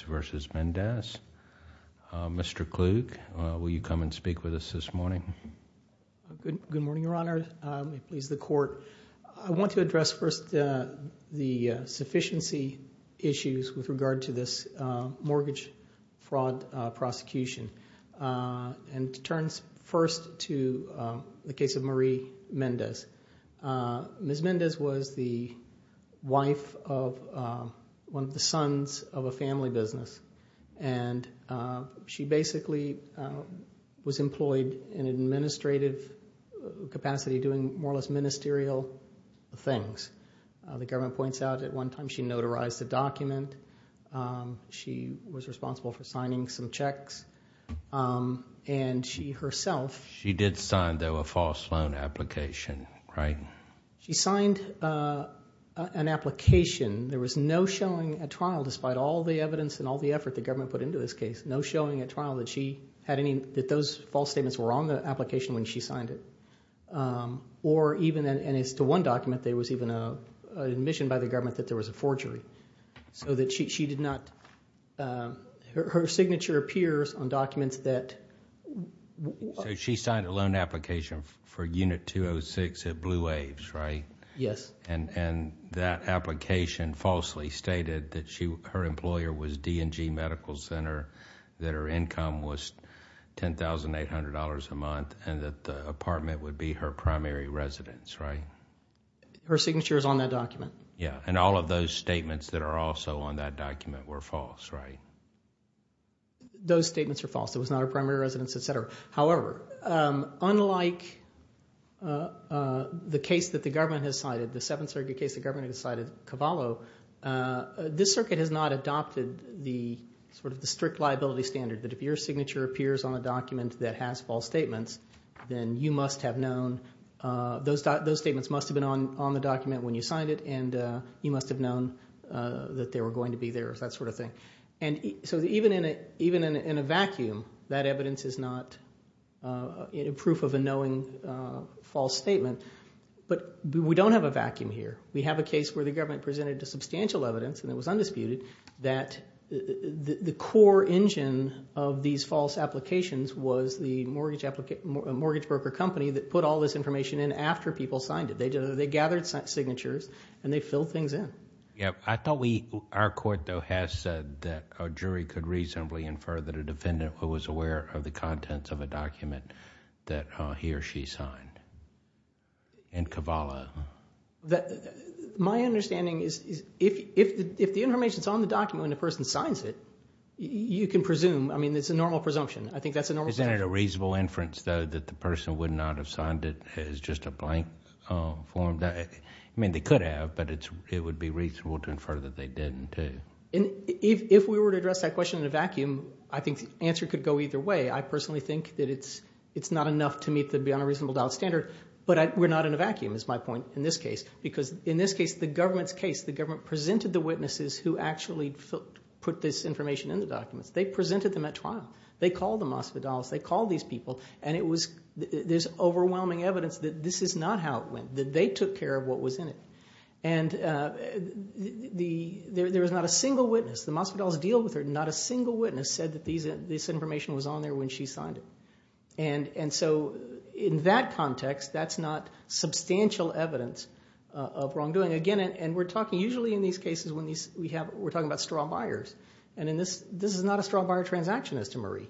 v. Mendez. Mr. Klug, will you come and speak with us this morning? Good morning, Your Honor. I want to address first the sufficiency issues with regard to this mortgage fraud prosecution. And to turn first to the case of Marie Mendez. Ms. Mendez was the wife of one of the sons of a family business. And she basically was employed in an administrative capacity doing more or less ministerial things. The government points out at one time she notarized the document. She was responsible for signing some checks. And she herself... She did sign, though, a false loan application, right? She signed an application. There was no showing at trial, despite all the evidence and all the effort the government put into this case, no showing at trial that those false statements were on the application when she signed it. Or even, and as to one document, there was even an admission by the government that there was a forgery. So that she did not... Her signature appears on documents that... She signed a loan application for Unit 206 at Blue Waves, right? Yes. And that application falsely stated that her employer was D&G Medical Center, that her income was $10,800 a month, and that the apartment would be her primary residence, right? Her signature is on that document. Yeah. And all of those statements that are also on that document were false, right? Those statements are false. It was not her primary residence, etc. However, unlike the case that the government has cited, the Seventh Circuit case the government has cited, Cavallo, this circuit has not adopted the sort of the strict liability standard that if your signature appears on a document that has false statements, then you must have known... Those statements must have been on the document when you signed it, and you must have known that they were going to be there, that sort of thing. So even in a vacuum, that evidence is not proof of a knowing false statement. But we don't have a vacuum here. We have a case where the government presented substantial evidence, and it was undisputed, that the core engine of these false applications was the mortgage broker company that put all this information in after people signed it. They gathered signatures, and they filled things in. Yeah. I thought we, our court though, has said that a jury could reasonably infer that a defendant was aware of the contents of a document that he or she signed in Cavallo. My understanding is if the information is on the document when the person signs it, you can presume, I mean, it's a normal presumption. I think that's a normal presumption. Isn't it a reasonable inference though that the person would not have signed it as just a blank form? I mean, they could have, but it would be reasonable to infer that they didn't too. If we were to address that question in a vacuum, I think the answer could go either way. I personally think that it's not enough to meet the beyond a reasonable doubt standard. But we're not in a vacuum, is my point in this case. Because in this case, the government's case, the government presented the witnesses who actually put this information in the documents. They presented them at trial. They called them hospitals. They called these people. And it was, there's overwhelming evidence that this is not how it went, that they took care of what was in it. And there was not a single witness. The hospitals deal with her. Not a single witness said that this information was on there when she signed it. And so in that context, that's not substantial evidence of wrongdoing. Again, and we're talking usually in these cases when we're talking about straw buyers. And this is not a straw buyer transaction as to Marie.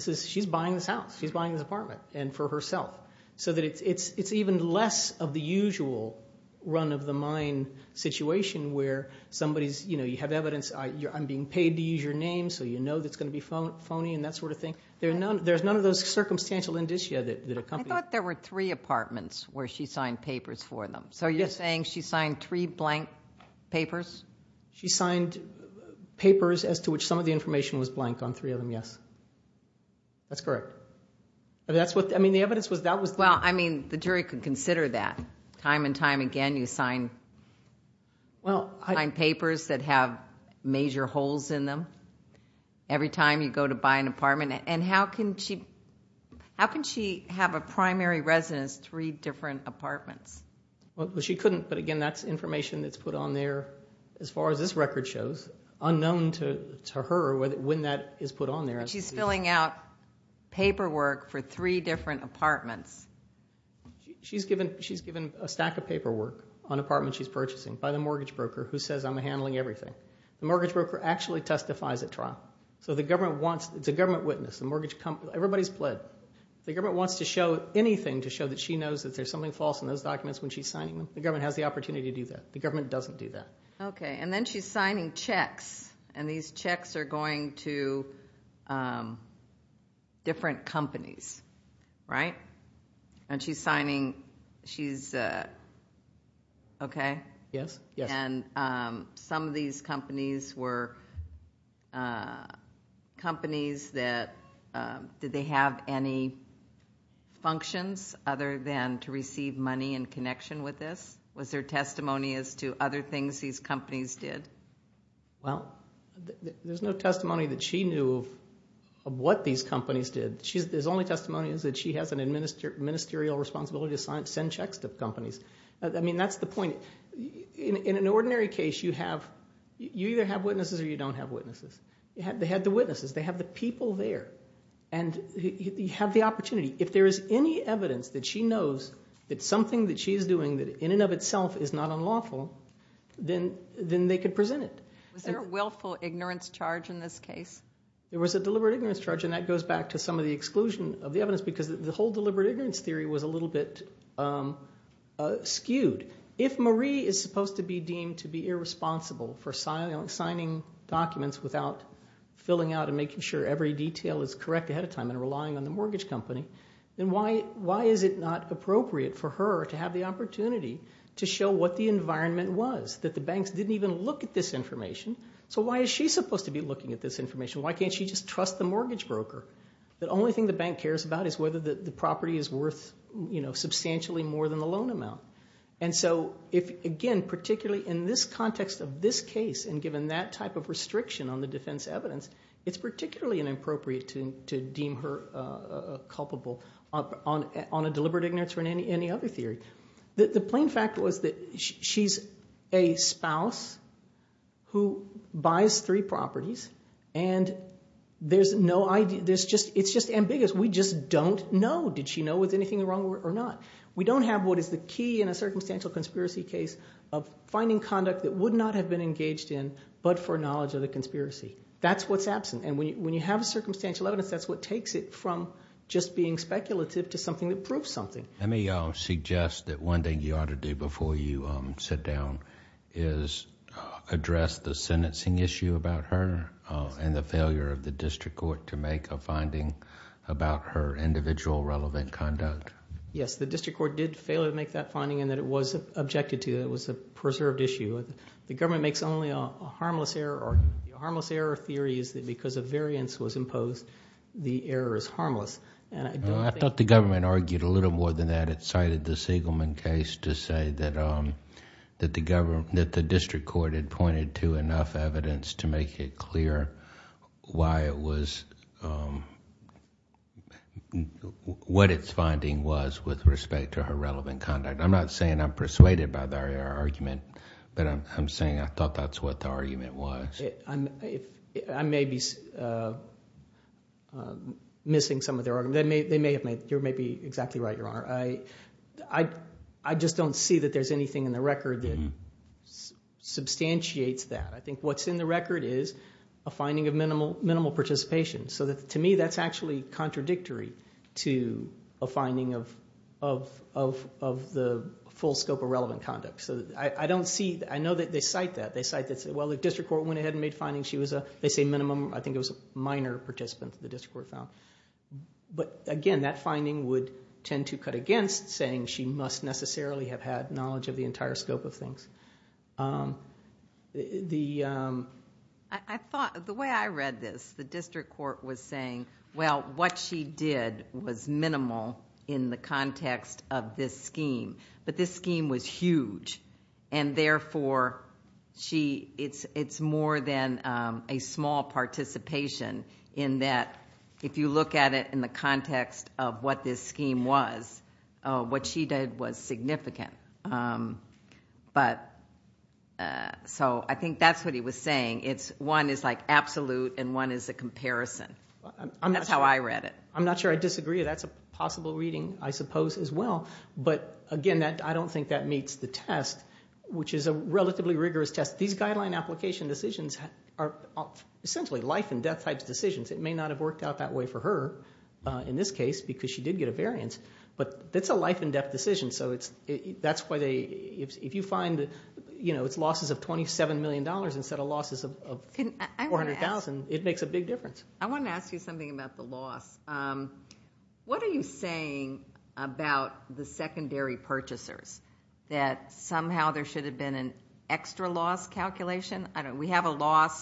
She's buying this house. She's buying this apartment. And for herself. So that it's even less of the usual run-of-the-mine situation where somebody's, you know, you have evidence, I'm being paid to use your name, so you know that's going to be phony and that sort of thing. There's none of those circumstantial indicia that accompany it. I thought there were three apartments where she signed papers for them. So you're saying she signed three blank papers? She signed papers as to which some of the information was blank on three of them, yes. That's correct. That's what, I mean, the evidence was, that was... Well, I mean, the jury could consider that. Time and time again you sign papers that have major holes in them every time you go to buy an apartment. And how can she, how can she have a primary residence three different apartments? Well, she couldn't. But again, that's information that's put on there, as far as this record shows, unknown to her when that is put on there. But she's filling out paperwork for three different apartments. She's given, she's given a stack of paperwork on apartments she's purchasing by the mortgage broker who says I'm handling everything. The mortgage broker actually testifies at trial. So the government wants, it's a government witness, the mortgage company, everybody's pled. The government wants to show anything to show that she knows that there's something false in those documents when she's signing them. The government has the opportunity to do that. The government doesn't do that. Okay. And then she's signing checks. And these checks are going to different companies, right? And she's signing, she's, okay? Yes, yes. And some of these companies were companies that, did they have any functions other than to receive money in connection with this? Was there testimony as to other things these companies did? Well, there's no testimony that she knew of what these companies did. There's only testimony is that she has an administerial responsibility to send checks to companies. I mean, that's the point. In an ordinary case, you have, you either have witnesses or you don't have witnesses. They had the witnesses. They have the people there. And you have the opportunity. If there is any evidence that she knows that something that she's doing that in and of itself is not unlawful, then they could present it. Was there a willful ignorance charge in this case? There was a deliberate ignorance charge, and that goes back to some of the exclusion of the evidence because the whole deliberate ignorance theory was a little bit skewed. If Marie is supposed to be deemed to be irresponsible for signing documents without filling out and making sure every detail is correct ahead of time and relying on the mortgage company, then why is it not appropriate for her to have the opportunity to show what the environment was, that the banks didn't even look at this information? So why is she supposed to be looking at this information? Why can't she just trust the mortgage broker? The only thing the bank cares about is whether the property is worth, you know, substantially more than the loan amount. And so if, again, particularly in this context of this case and given that type of restriction on the defense evidence, it's particularly inappropriate to deem her culpable on a deliberate ignorance or any other theory. The plain fact was that she's a spouse who buys three properties, and there's no idea. It's just ambiguous. We just don't know. Did she know? Was anything wrong or not? We don't have what is the key in a circumstantial conspiracy case of finding conduct that would not have been engaged in but for knowledge of the conspiracy. That's what's absent. And when you have a circumstantial evidence, that's what takes it from just being speculative to something that proves something. Let me suggest that one thing you ought to do before you sit down is address the sentencing issue about her and the failure of the district court to make a finding about her individual relevant conduct. Yes, the district court did fail to make that finding and that it was objected to. It was a failure. It makes only a harmless error. The harmless error theory is that because a variance was imposed, the error is harmless. I thought the government argued a little more than that. It cited the Siegelman case to say that the district court had pointed to enough evidence to make it clear why it was what its finding was with respect to her relevant conduct. I'm not saying I'm persuaded by their argument, but I'm saying I thought that's what the argument was. I may be missing some of their argument. You may be exactly right, Your Honor. I just don't see that there's anything in the record that substantiates that. I think what's in the record is a finding of minimal participation. To me, that's actually contradictory to a full scope of relevant conduct. I know that they cite that. They cite that, well, the district court went ahead and made findings. They say minimum. I think it was minor participants the district court found. Again, that finding would tend to cut against saying she must necessarily have had knowledge of the entire scope of things. The way I read this, the district court was saying, well, what she did was minimal in the context of this scheme, but this scheme was huge. Therefore, it's more than a small participation in that if you look at it in the context of what this scheme was, what she did was significant. I think that's what he was saying. One is absolute and one is a comparison. That's how I read it. I'm not sure I disagree. That's a possible reading, I suppose, as well. Again, I don't think that meets the test, which is a relatively rigorous test. These guideline application decisions are essentially life and death type decisions. It may not have worked out that way for her in this case because she did get a variance, but it's a life and death decision. If you find it's losses of $27 million instead of losses of $400,000, it makes a big difference. I want to ask you something about the loss. What are you saying about the secondary purchasers, that somehow there should have been an extra loss calculation? We have a loss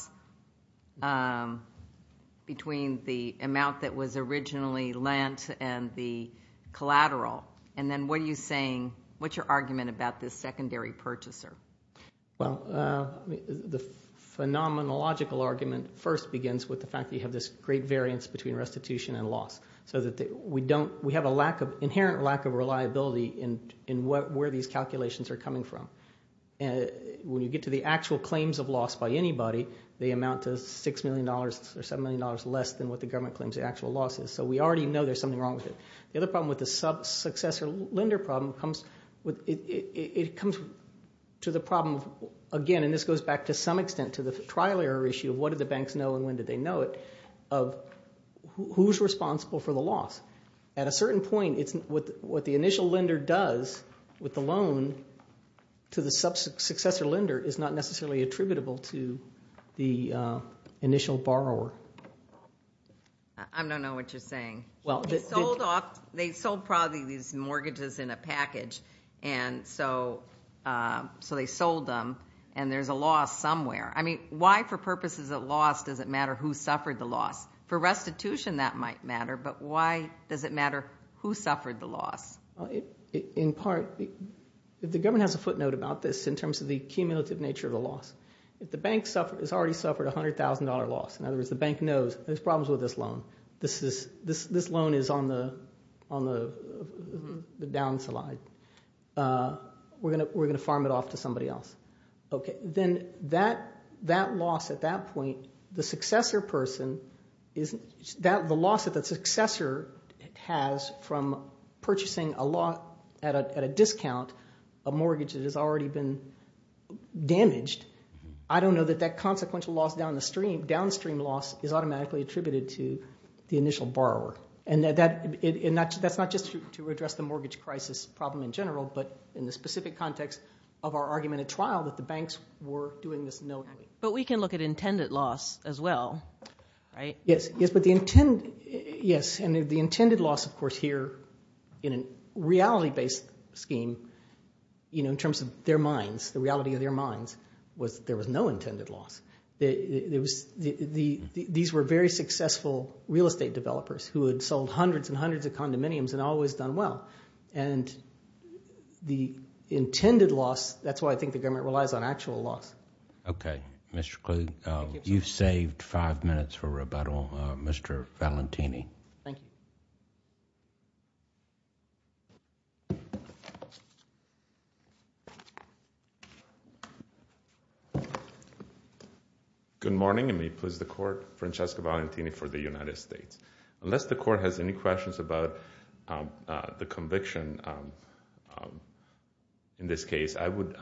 between the amount that was originally lent and the collateral. Then what are you saying, what's your argument about this secondary purchaser? The phenomenological argument first begins with the fact that you have this great variance between restitution and loss. We have an inherent lack of reliability in where these calculations are coming from. When you get to the actual claims of loss by anybody, they amount to $6 million or $7 million less than what the government claims the actual loss is. We already know there's something wrong with it. The other problem with the sub-successor lender problem comes to the problem again, and this goes back to some extent to the trial error issue of what did the banks know and when did they know it, of who's responsible for the loss. At a certain point, what the initial lender does with the loan to the sub-successor lender is not necessarily attributable to the initial borrower. I don't know what you're saying. They sold probably these mortgages in a package, so they sold them and there's a loss somewhere. Why for purposes of loss does it matter who suffered the loss? For restitution that might matter, but why does it matter who suffered the loss? In part, the government has a footnote about this in terms of the cumulative nature of the loss. In other words, the bank knows there's problems with this loan. This loan is on the down slide. We're going to farm it off to somebody else. Then that loss at that point, the loss that the successor has from purchasing a lot at a discount, a mortgage that has already been damaged, I don't know that that consequential loss downstream loss is automatically attributed to the initial borrower. That's not just to address the mortgage crisis problem in general, but in the specific context of our argument at trial that the banks were doing this knowingly. But we can look at intended loss as well, right? Yes, but the intended loss, of course, here in a reality-based scheme in terms of the reality of their minds, was there was no intended loss. These were very successful real estate developers who had sold hundreds and hundreds of condominiums and always done well. The intended loss, that's why I think the government relies on actual loss. Okay. Mr. Klug, you've saved five minutes for rebuttal. Mr. Valentini. Thank you. Good morning, and may it please the Court. Francesco Valentini for the United States. Unless the Court has any questions about the conviction in this case, I would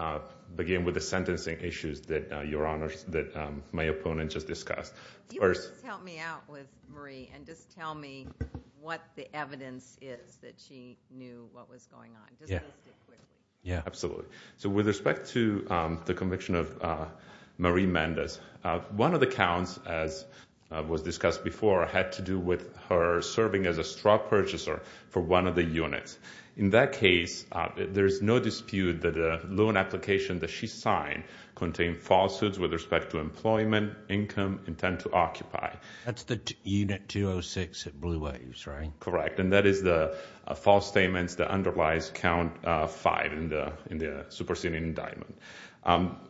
begin with the sentencing issues that Your Honors, that my opponent just discussed. If you could just help me out with Marie, and just tell me what the evidence is that she knew what was going on. Just list it quickly. Yeah, absolutely. So with respect to the conviction of Marie Mendez, one of the counts, as was discussed before, had to do with her serving as a straw purchaser for one of the units. In that case, there is no dispute that the loan application that she signed contained falsehoods with respect to employment, income, intent to occupy. That's the Unit 206 at Blue Waves, right? Correct, and that is the false statements that underlies Count 5 in the superseding indictment.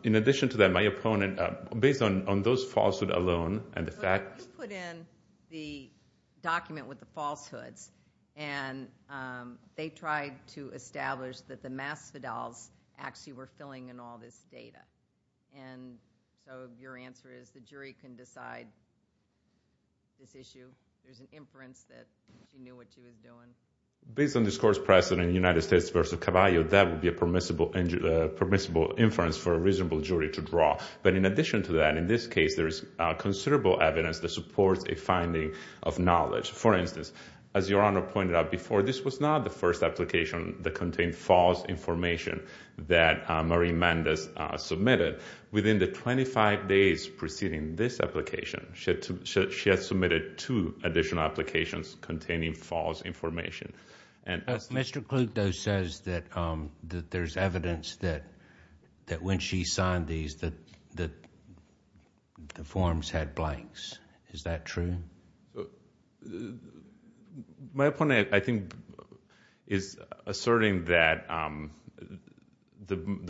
In addition to that, my opponent, based on those falsehoods alone, and the fact So you put in the document with the falsehoods, and they tried to establish that the Masvidals actually were filling in all this data. And so your answer is the jury can decide this issue. There's an inference that she knew what she was doing. Based on this court's precedent, United States v. Cavallio, that would be a permissible inference for a reasonable jury to draw. But in addition to that, in this case, there is considerable evidence that supports a finding of knowledge. For instance, as Your Honor pointed out before, this was not the first application that contained false information that Marie Mendez submitted. Within the 25 days preceding this application, she had submitted two additional applications containing false information. Mr. Clute, though, says that there's evidence that when she signed these, that the forms had blanks. Is that true? My opponent, I think, is asserting that there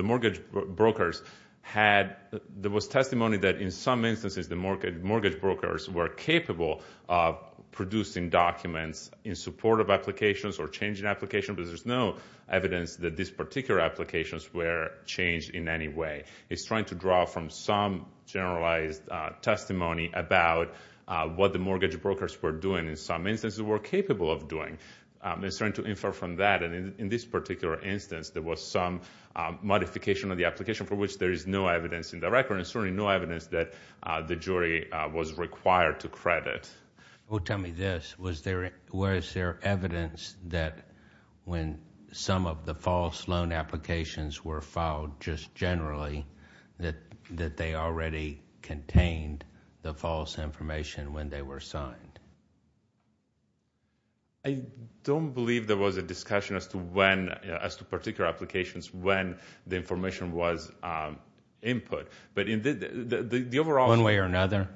was testimony that in some instances the mortgage brokers were capable of producing documents in support of applications or changing applications, but there's no evidence that these particular applications were changed in any way. He's trying to draw from some generalized testimony about what the mortgage brokers were doing in some instances were capable of doing. He's trying to infer from that. In this particular instance, there was some modification of the application for which there is no evidence in the record and certainly no evidence that the jury was required to credit. Tell me this. Was there evidence that when some of the false loan applications were filed, just generally, that they already contained the false information when they were signed? I don't believe there was a discussion as to particular applications when the information was input. One way or another?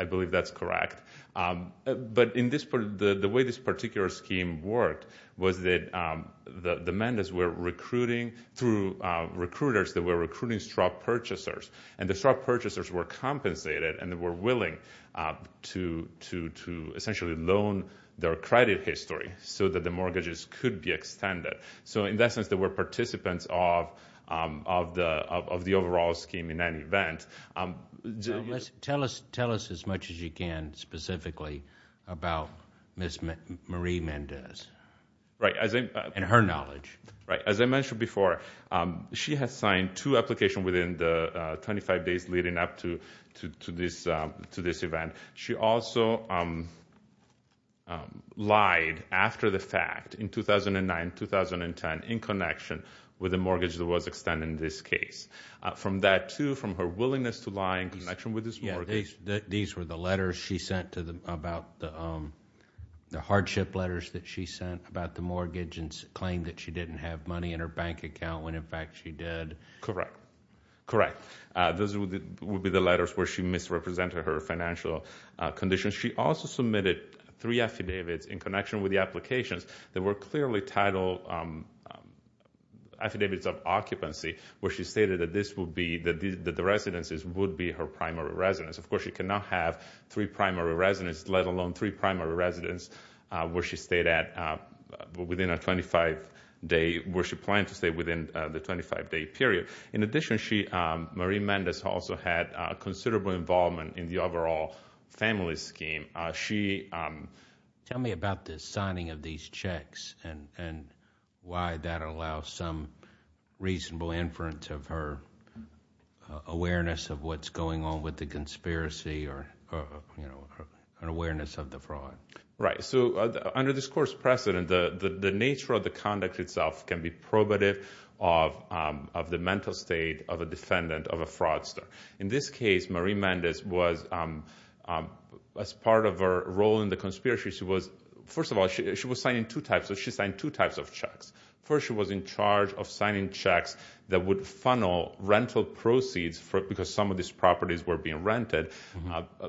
I believe that's correct. But the way this particular scheme worked was that the Mendez were recruiting through recruiters that were recruiting strop purchasers, and the strop purchasers were compensated and were willing to essentially loan their credit history so that the mortgages could be extended. In that sense, they were participants of the overall scheme in any event. Tell us as much as you can specifically about Ms. Marie Mendez and her knowledge. As I mentioned before, she had signed two applications within the 25 days leading up to this event. She also lied after the fact in 2009-2010 in connection with a mortgage that was extended in this case. From that, too, from her willingness to lie in connection with this mortgage. These were the letters she sent about the hardship letters that she sent about the mortgage and claimed that she didn't have money in her bank account when, in fact, she did. Correct. Correct. Those would be the letters where she misrepresented her financial conditions. She also submitted three affidavits in connection with the applications that were clearly titled Affidavits of Occupancy, where she stated that the residences would be her primary residence. Of course, she could not have three primary residences, let alone three primary residences, where she planned to stay within the 25-day period. In addition, Marie Mendez also had considerable involvement in the overall family scheme. Tell me about the signing of these checks and why that allows some reasonable inference of her awareness of what's going on with the conspiracy or an awareness of the fraud. Right. Under this Court's precedent, the nature of the conduct itself can be probative of the mental state of a defendant, of a fraudster. In this case, Marie Mendez was, as part of her role in the conspiracy, she was signing two types of checks. First, she was in charge of signing checks that would funnel rental proceeds, because some of these properties were being rented,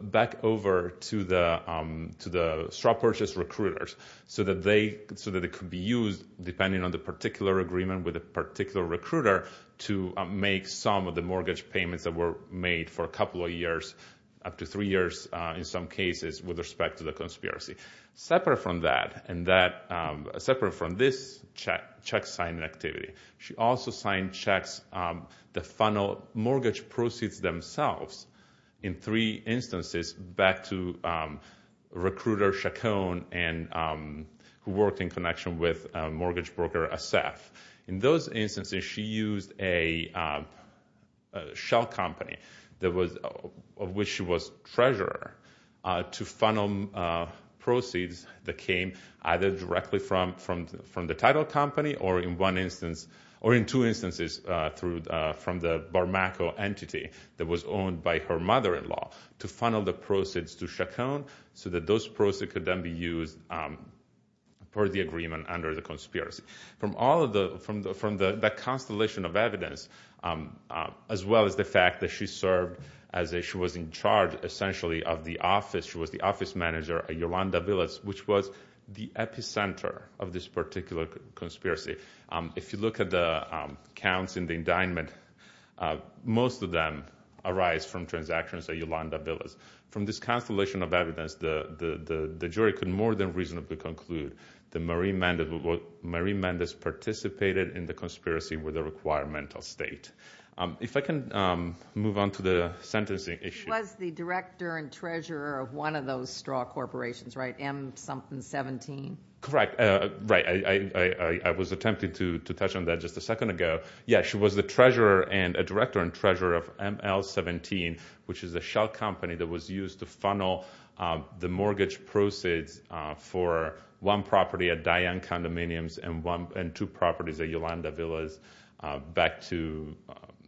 back over to the straw-purchase recruiters so that it could be used, depending on the particular agreement with a particular recruiter, to make some of the mortgage payments that were made for a couple of years, up to three years in some cases, with respect to the conspiracy. Separate from this check-signing activity, she also signed checks that funnel mortgage proceeds themselves. In three instances, back to recruiter Chacon, who worked in connection with mortgage broker Assef. In those instances, she used a shell company, of which she was treasurer, to funnel proceeds that came either directly from the title company, or in two instances, from the Barmaco entity that was owned by her mother-in-law, to funnel the proceeds to Chacon so that those proceeds could then be used for the agreement under the conspiracy. From that constellation of evidence, as well as the fact that she was in charge, essentially, of the office, she was the office manager at Yolanda Villas, which was the epicenter of this particular conspiracy. If you look at the counts in the indictment, most of them arise from transactions at Yolanda Villas. From this constellation of evidence, the jury could more than reasonably conclude that Marie Mendez participated in the conspiracy with a requirement of state. If I can move on to the sentencing issue. She was the director and treasurer of one of those straw corporations, right? M-something-17? Correct. Right. I was attempting to touch on that just a second ago. Yeah, she was the director and treasurer of ML-17, which is a shell company that was used to funnel the mortgage proceeds for one property at Diane Condominiums and two properties at Yolanda Villas back to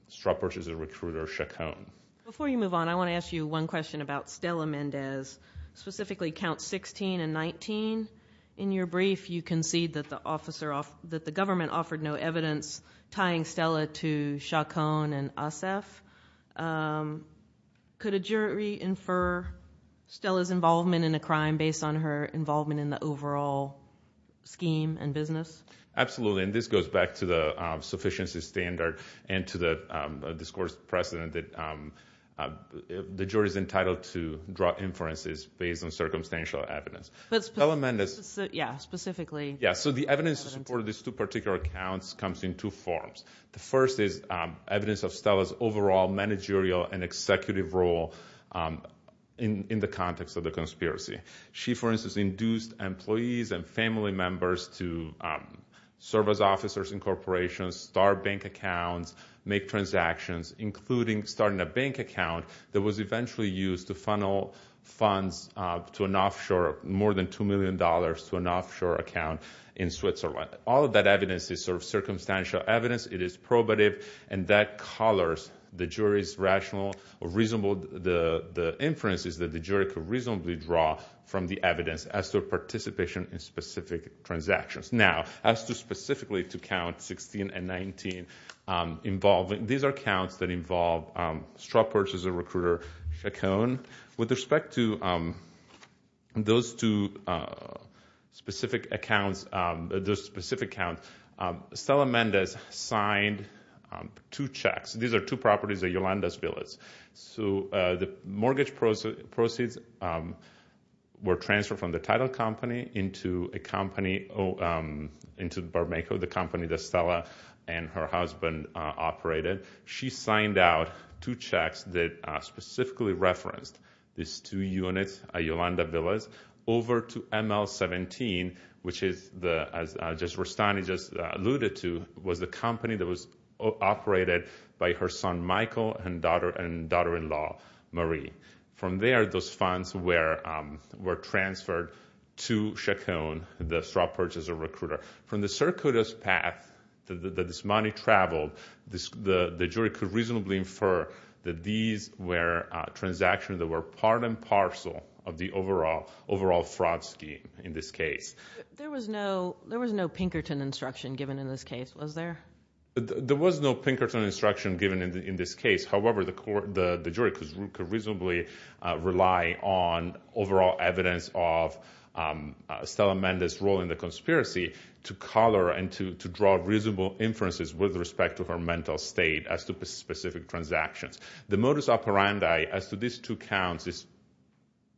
straw purchaser recruiter Chacon. Before you move on, I want to ask you one question about Stella Mendez, specifically Counts 16 and 19. In your brief, you concede that the government offered no evidence tying Stella to Chacon and ASEF. Could a jury infer Stella's involvement in a crime based on her involvement in the overall scheme and business? Absolutely, and this goes back to the sufficiency standard and to the discourse precedent that the jury is entitled to draw inferences based on circumstantial evidence. Yeah, specifically. Yeah, so the evidence to support these two particular accounts comes in two forms. The first is evidence of Stella's overall managerial and executive role in the context of the conspiracy. She, for instance, induced employees and family members to serve as officers in corporations, start bank accounts, make transactions, including starting a bank account that was eventually used to funnel funds to an offshore of more than $2 million to an offshore account in Switzerland. All of that evidence is sort of circumstantial evidence. It is probative, and that colors the jury's rational or reasonable inferences that the jury could reasonably draw from the evidence as to participation in specific transactions. Now, as to specifically to count 16 and 19, these are counts that involve straw purchase of recruiter Chacon. With respect to those two specific accounts, Stella Mendez signed two checks. These are two properties at Yolanda's Villas. So the mortgage proceeds were transferred from the title company into a company, into Barmako, the company that Stella and her husband operated. She signed out two checks that specifically referenced these two units at Yolanda Villas over to ML17, which is the company that was operated by her son Michael and daughter-in-law Marie. From there, those funds were transferred to Chacon, the straw purchase of recruiter. From the circuitous path that this money traveled, the jury could reasonably infer that these were transactions that were part and parcel of the overall fraud scheme in this case. There was no Pinkerton instruction given in this case, was there? There was no Pinkerton instruction given in this case. However, the jury could reasonably rely on overall evidence of Stella Mendez' role in the conspiracy to color and to draw reasonable inferences with respect to her mental state as to specific transactions. The modus operandi as to these two counts is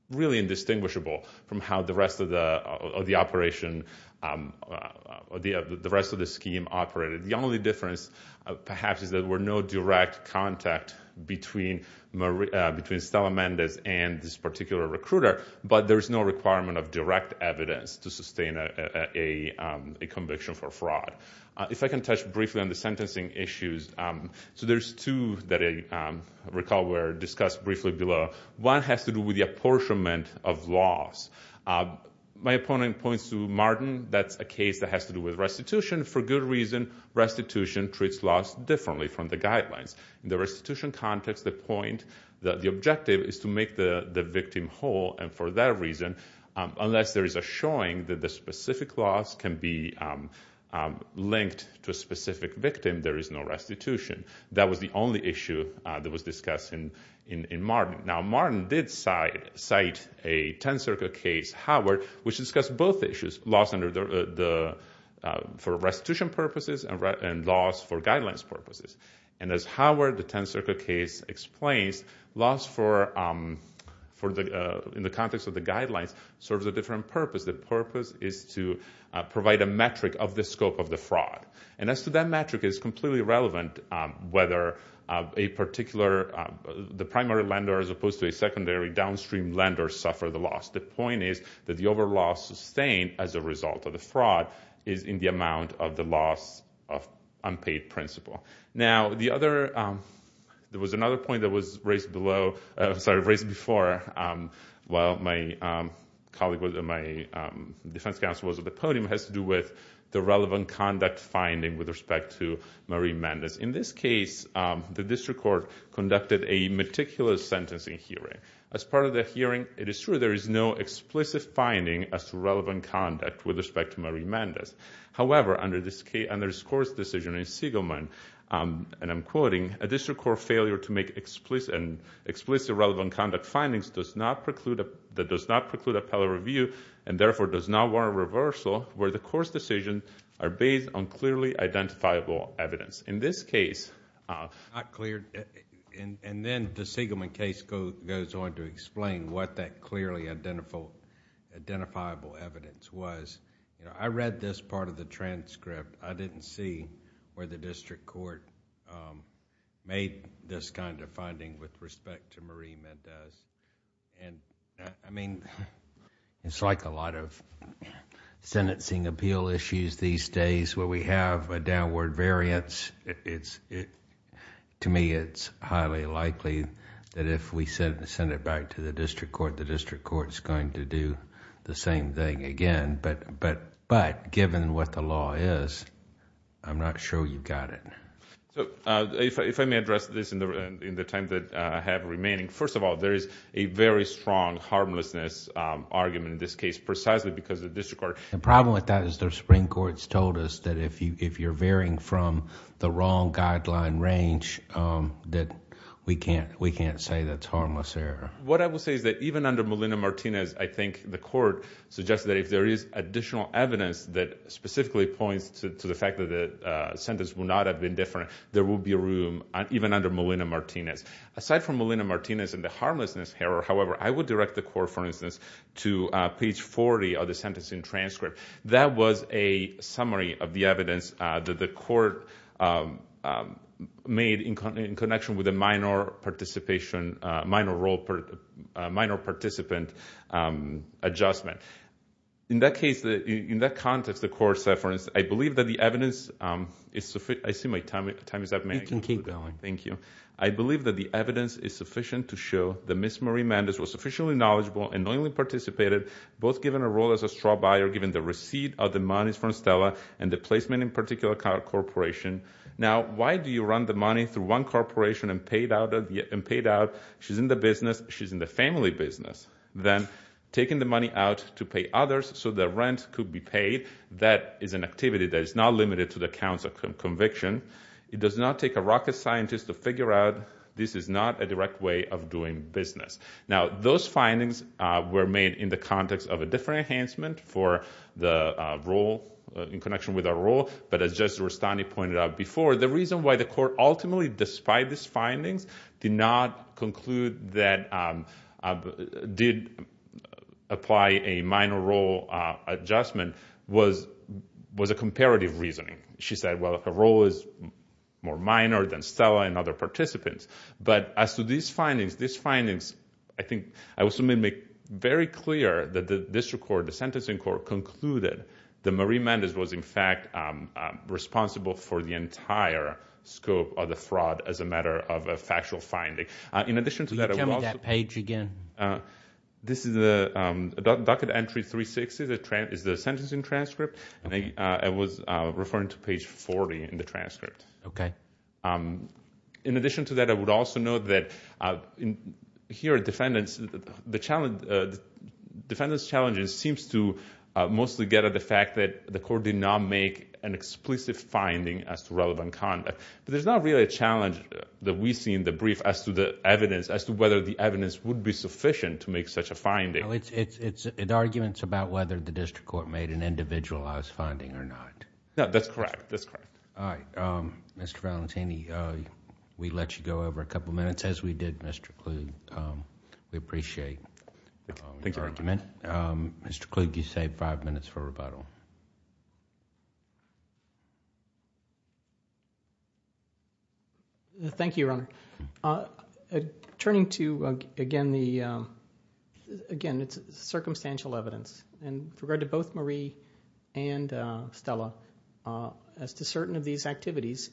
really indistinguishable from how the rest of the operation, the rest of the scheme operated. The only difference perhaps is there were no direct contact between Stella Mendez and this particular recruiter, but there is no requirement of direct evidence to sustain a conviction for fraud. If I can touch briefly on the sentencing issues, so there's two that I recall were discussed briefly below. One has to do with the apportionment of loss. My opponent points to Martin. That's a case that has to do with restitution. For good reason, restitution treats loss differently from the guidelines. In the restitution context, the point, the objective is to make the victim whole, and for that reason, unless there is a showing that the specific loss can be linked to a specific victim, there is no restitution. That was the only issue that was discussed in Martin. Now Martin did cite a 10th Circuit case, Howard, which discussed both issues, loss for restitution purposes and loss for guidelines purposes. And as Howard, the 10th Circuit case, explains, loss in the context of the guidelines serves a different purpose. The purpose is to provide a metric of the scope of the fraud. And as to that metric, it's completely irrelevant whether a particular, the primary lender as opposed to a secondary downstream lender suffered the loss. The point is that the overall loss sustained as a result of the fraud is in the amount of the loss of unpaid principal. Now, the other, there was another point that was raised below, sorry, raised before, while my colleague, my defense counsel was at the podium, has to do with the relevant conduct finding with respect to Marie Mendez. In this case, the district court conducted a meticulous sentencing hearing. As part of the hearing, it is true there is no explicit finding as to relevant conduct with respect to Marie Mendez. However, under this court's decision in Siegelman, and I'm quoting, a district court failure to make explicit relevant conduct findings does not preclude appellate review and therefore does not warrant reversal where the court's decisions are based on clearly identifiable evidence. In this case... It's not clear, and then the Siegelman case goes on to explain what that clearly identifiable evidence was. I read this part of the transcript. I didn't see where the district court made this kind of finding with respect to Marie Mendez. I mean, it's like a lot of sentencing appeal issues these days where we have a downward variance. To me, it's highly likely that if we send it back to the district court, the district court is going to do the same thing again, but given what the law is, I'm not sure you've got it. If I may address this in the time that I have remaining, first of all, there is a very strong harmlessness argument in this case precisely because the district court... The problem with that is the Supreme Court's told us that if you're varying from the wrong guideline range, that we can't say that's harmless error. What I will say is that even under Molina-Martinez, I think the court suggested that if there is additional evidence that specifically points to the fact that the sentence will not have been different, there will be room even under Molina-Martinez. Aside from Molina-Martinez and the harmlessness error, however, I would direct the court, for instance, to page 40 of the sentencing transcript. That was a summary of the evidence that the court made in connection with a minor participation... minor role... minor participant adjustment. In that case, in that context, the court said, for instance, I believe that the evidence is... I see my time is up. May I conclude? You can keep going. Thank you. I believe that the evidence is sufficient to show that Ms. Marie Mendez was sufficiently knowledgeable and knowingly participated, both given a role as a straw buyer, given the receipt of the monies from Stella and the placement in particular corporation. Now, why do you run the money through one corporation and pay it out? She's in the business. She's in the family business. Then, taking the money out to pay others, so the rent could be paid, that is an activity that is not limited to the counts of conviction. It does not take a rocket scientist to figure out this is not a direct way of doing business. Now, those findings were made in the context of a different enhancement for the role... in connection with a role, but as Judge Rustani pointed out before, the reason why the court ultimately, despite these findings, did not conclude that... did apply a minor role adjustment was a comparative reasoning. She said, well, her role is more minor than Stella and other participants. But, as to these findings, these findings, I think, I was going to make very clear that the district court, the sentencing court, concluded that Marie Mendez was, in fact, responsible for the entire scope of the fraud, as a matter of a factual finding. In addition to that... Can you tell me that page again? This is the... docket entry 360 is the sentencing transcript. I was referring to page 40 in the transcript. Okay. In addition to that, I would also note that here, defendants... the defendants' challenges seems to mostly get at the fact that the court did not make an explicit finding as to relevant conduct. But, there's not really a challenge that we see in the brief as to the evidence... as to whether the evidence would be sufficient to make such a finding. It's arguments about whether the district court made an individualized finding or not. No, that's correct. That's correct. All right. Mr. Valentini, we let you go over a couple minutes, as we did Mr. Kluge. We appreciate your argument. Mr. Kluge, you saved five minutes for rebuttal. Thank you, Your Honor. Turning to, again, the... again, it's circumstantial evidence. And, with regard to both Marie and Stella, as to certain of these activities...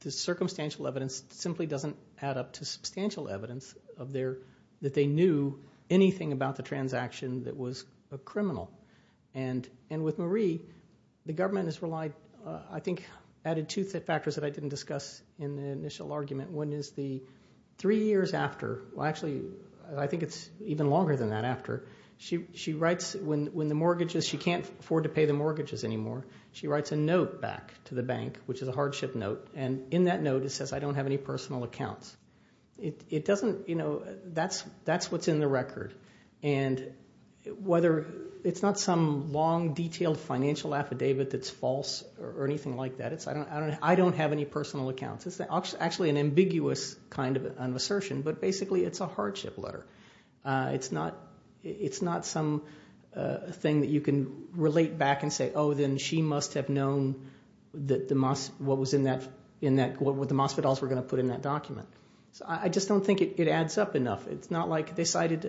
the circumstantial evidence simply doesn't add up to substantial evidence of their... that they knew anything about the transaction that was a criminal. And, with Marie, the government has relied... I think added two factors that I didn't discuss in the initial argument. One is the three years after... well, actually, I think it's even longer than that after... she writes when the mortgages... she can't afford to pay the mortgages anymore. She writes a note back to the bank, which is a hardship note. And, in that note, it says, I don't have any personal accounts. It doesn't... you know, that's what's in the record. And, whether... it's not some long, detailed financial affidavit that's false or anything like that. It's, I don't have any personal accounts. It's actually an ambiguous kind of an assertion. But, basically, it's a hardship letter. It's not... it's not some thing that you can relate back and say, oh, then she must have known that the... what was in that... in that... what the Mosvidals were going to put in that document. So, I just don't think it adds up enough. It's not like they cited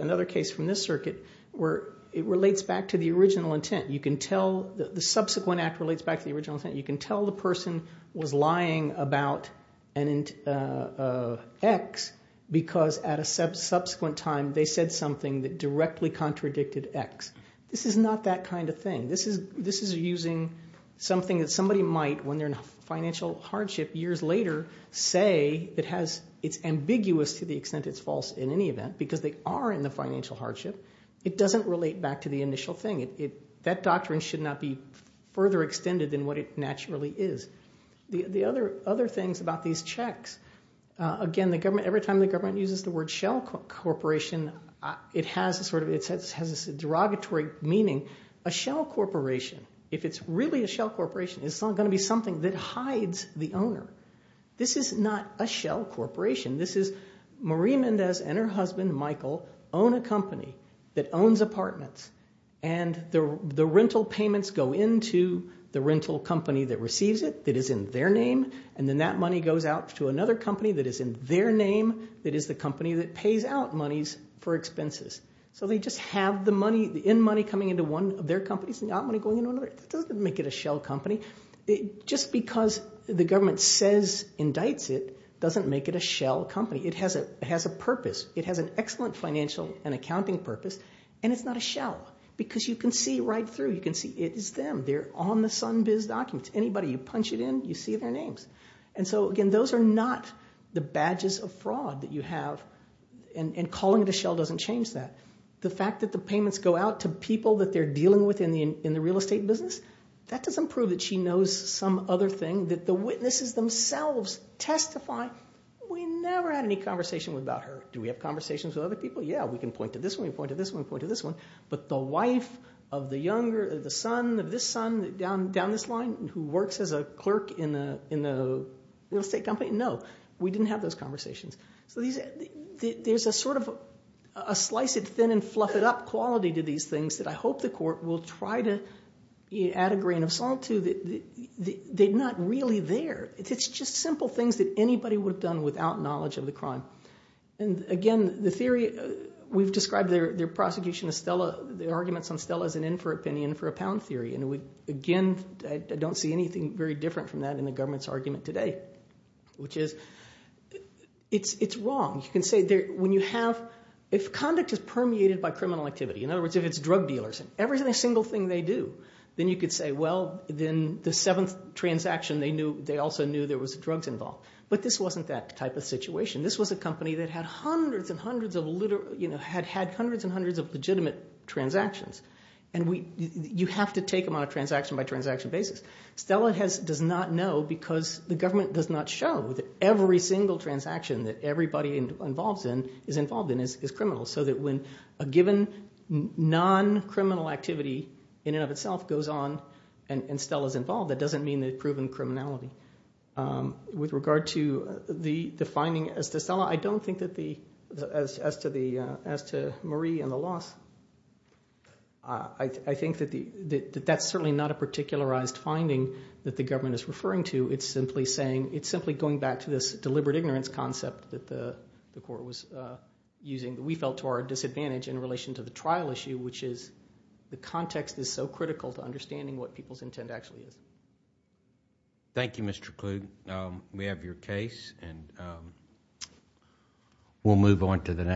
another case from this circuit where it relates back to the original intent. You can tell... the subsequent act relates back to the original intent. You can tell the person was lying about an X because, at a subsequent time, they said something that directly contradicted X. This is not that kind of thing. This is using something that somebody might, when they're in financial hardship years later, say it has... it's ambiguous to the extent it's false in any event, because they are in the financial hardship. It doesn't relate back to the initial thing. It... that doctrine should not be further extended than what it naturally is. The other things about these checks... again, the government... every time the government uses the word shell corporation, it has a sort of... it has a derogatory meaning. A shell corporation, if it's really a shell corporation, is going to be something that hides the owner. This is not a shell corporation. This is Marie Mendez and her husband, Michael, own a company that owns apartments, and the rental payments go into the rental company that receives it that is in their name, and then that money goes out to another company that is in their name that is the company that pays out monies for expenses. So they just have the money... the in money coming into one of their companies and the out money going into another. That doesn't make it a shell company. Just because the government says... indicts it, doesn't make it a shell company. It has a purpose. It has an excellent financial and accounting purpose, and it's not a shell because you can see right through. You can see it is them. They're on the Sunbiz documents. Anybody, you punch it in, you see their names. And so, again, those are not the badges of fraud that you have, and calling it a shell doesn't change that. The fact that the payments go out to people that they're dealing with in the real estate business, that doesn't prove that she knows some other thing, that the witnesses themselves testify, we never had any conversation about her. Do we have conversations with other people? Yeah, we can point to this one, point to this one, point to this one. But the wife of the son down this line who works as a clerk in the real estate company, no, we didn't have those conversations. So there's a sort of a slice it thin and fluff it up quality to these things that I hope the court will try to add a grain of salt to. They're not really there. It's just simple things that anybody would have done without knowledge of the crime. And, again, the theory, we've described their prosecution of Stella, their arguments on Stella as an infer opinion for a pound theory. And, again, I don't see anything very different from that in the government's argument today, which is it's wrong. You can say when you have, if conduct is permeated by criminal activity, in other words, if it's drug dealers, every single thing they do, then you could say, well, then the seventh transaction, they also knew there was drugs involved. But this wasn't that type of situation. This was a company that had hundreds and hundreds of legitimate transactions. And you have to take them on a transaction-by-transaction basis. Stella does not know because the government does not show that every single transaction that everybody is involved in is criminal so that when a given non-criminal activity, in and of itself, goes on and Stella is involved, that doesn't mean they've proven criminality. With regard to the finding as to Stella, I don't think as to Marie and the loss, I think that that's certainly not a particularized finding that the government is referring to. It's simply going back to this deliberate ignorance concept that the court was using that we felt to our disadvantage in relation to the trial issue, which is the context is so critical to understanding what people's intent actually is. Thank you, Mr. Klug. We have your case, and we'll move on to the next.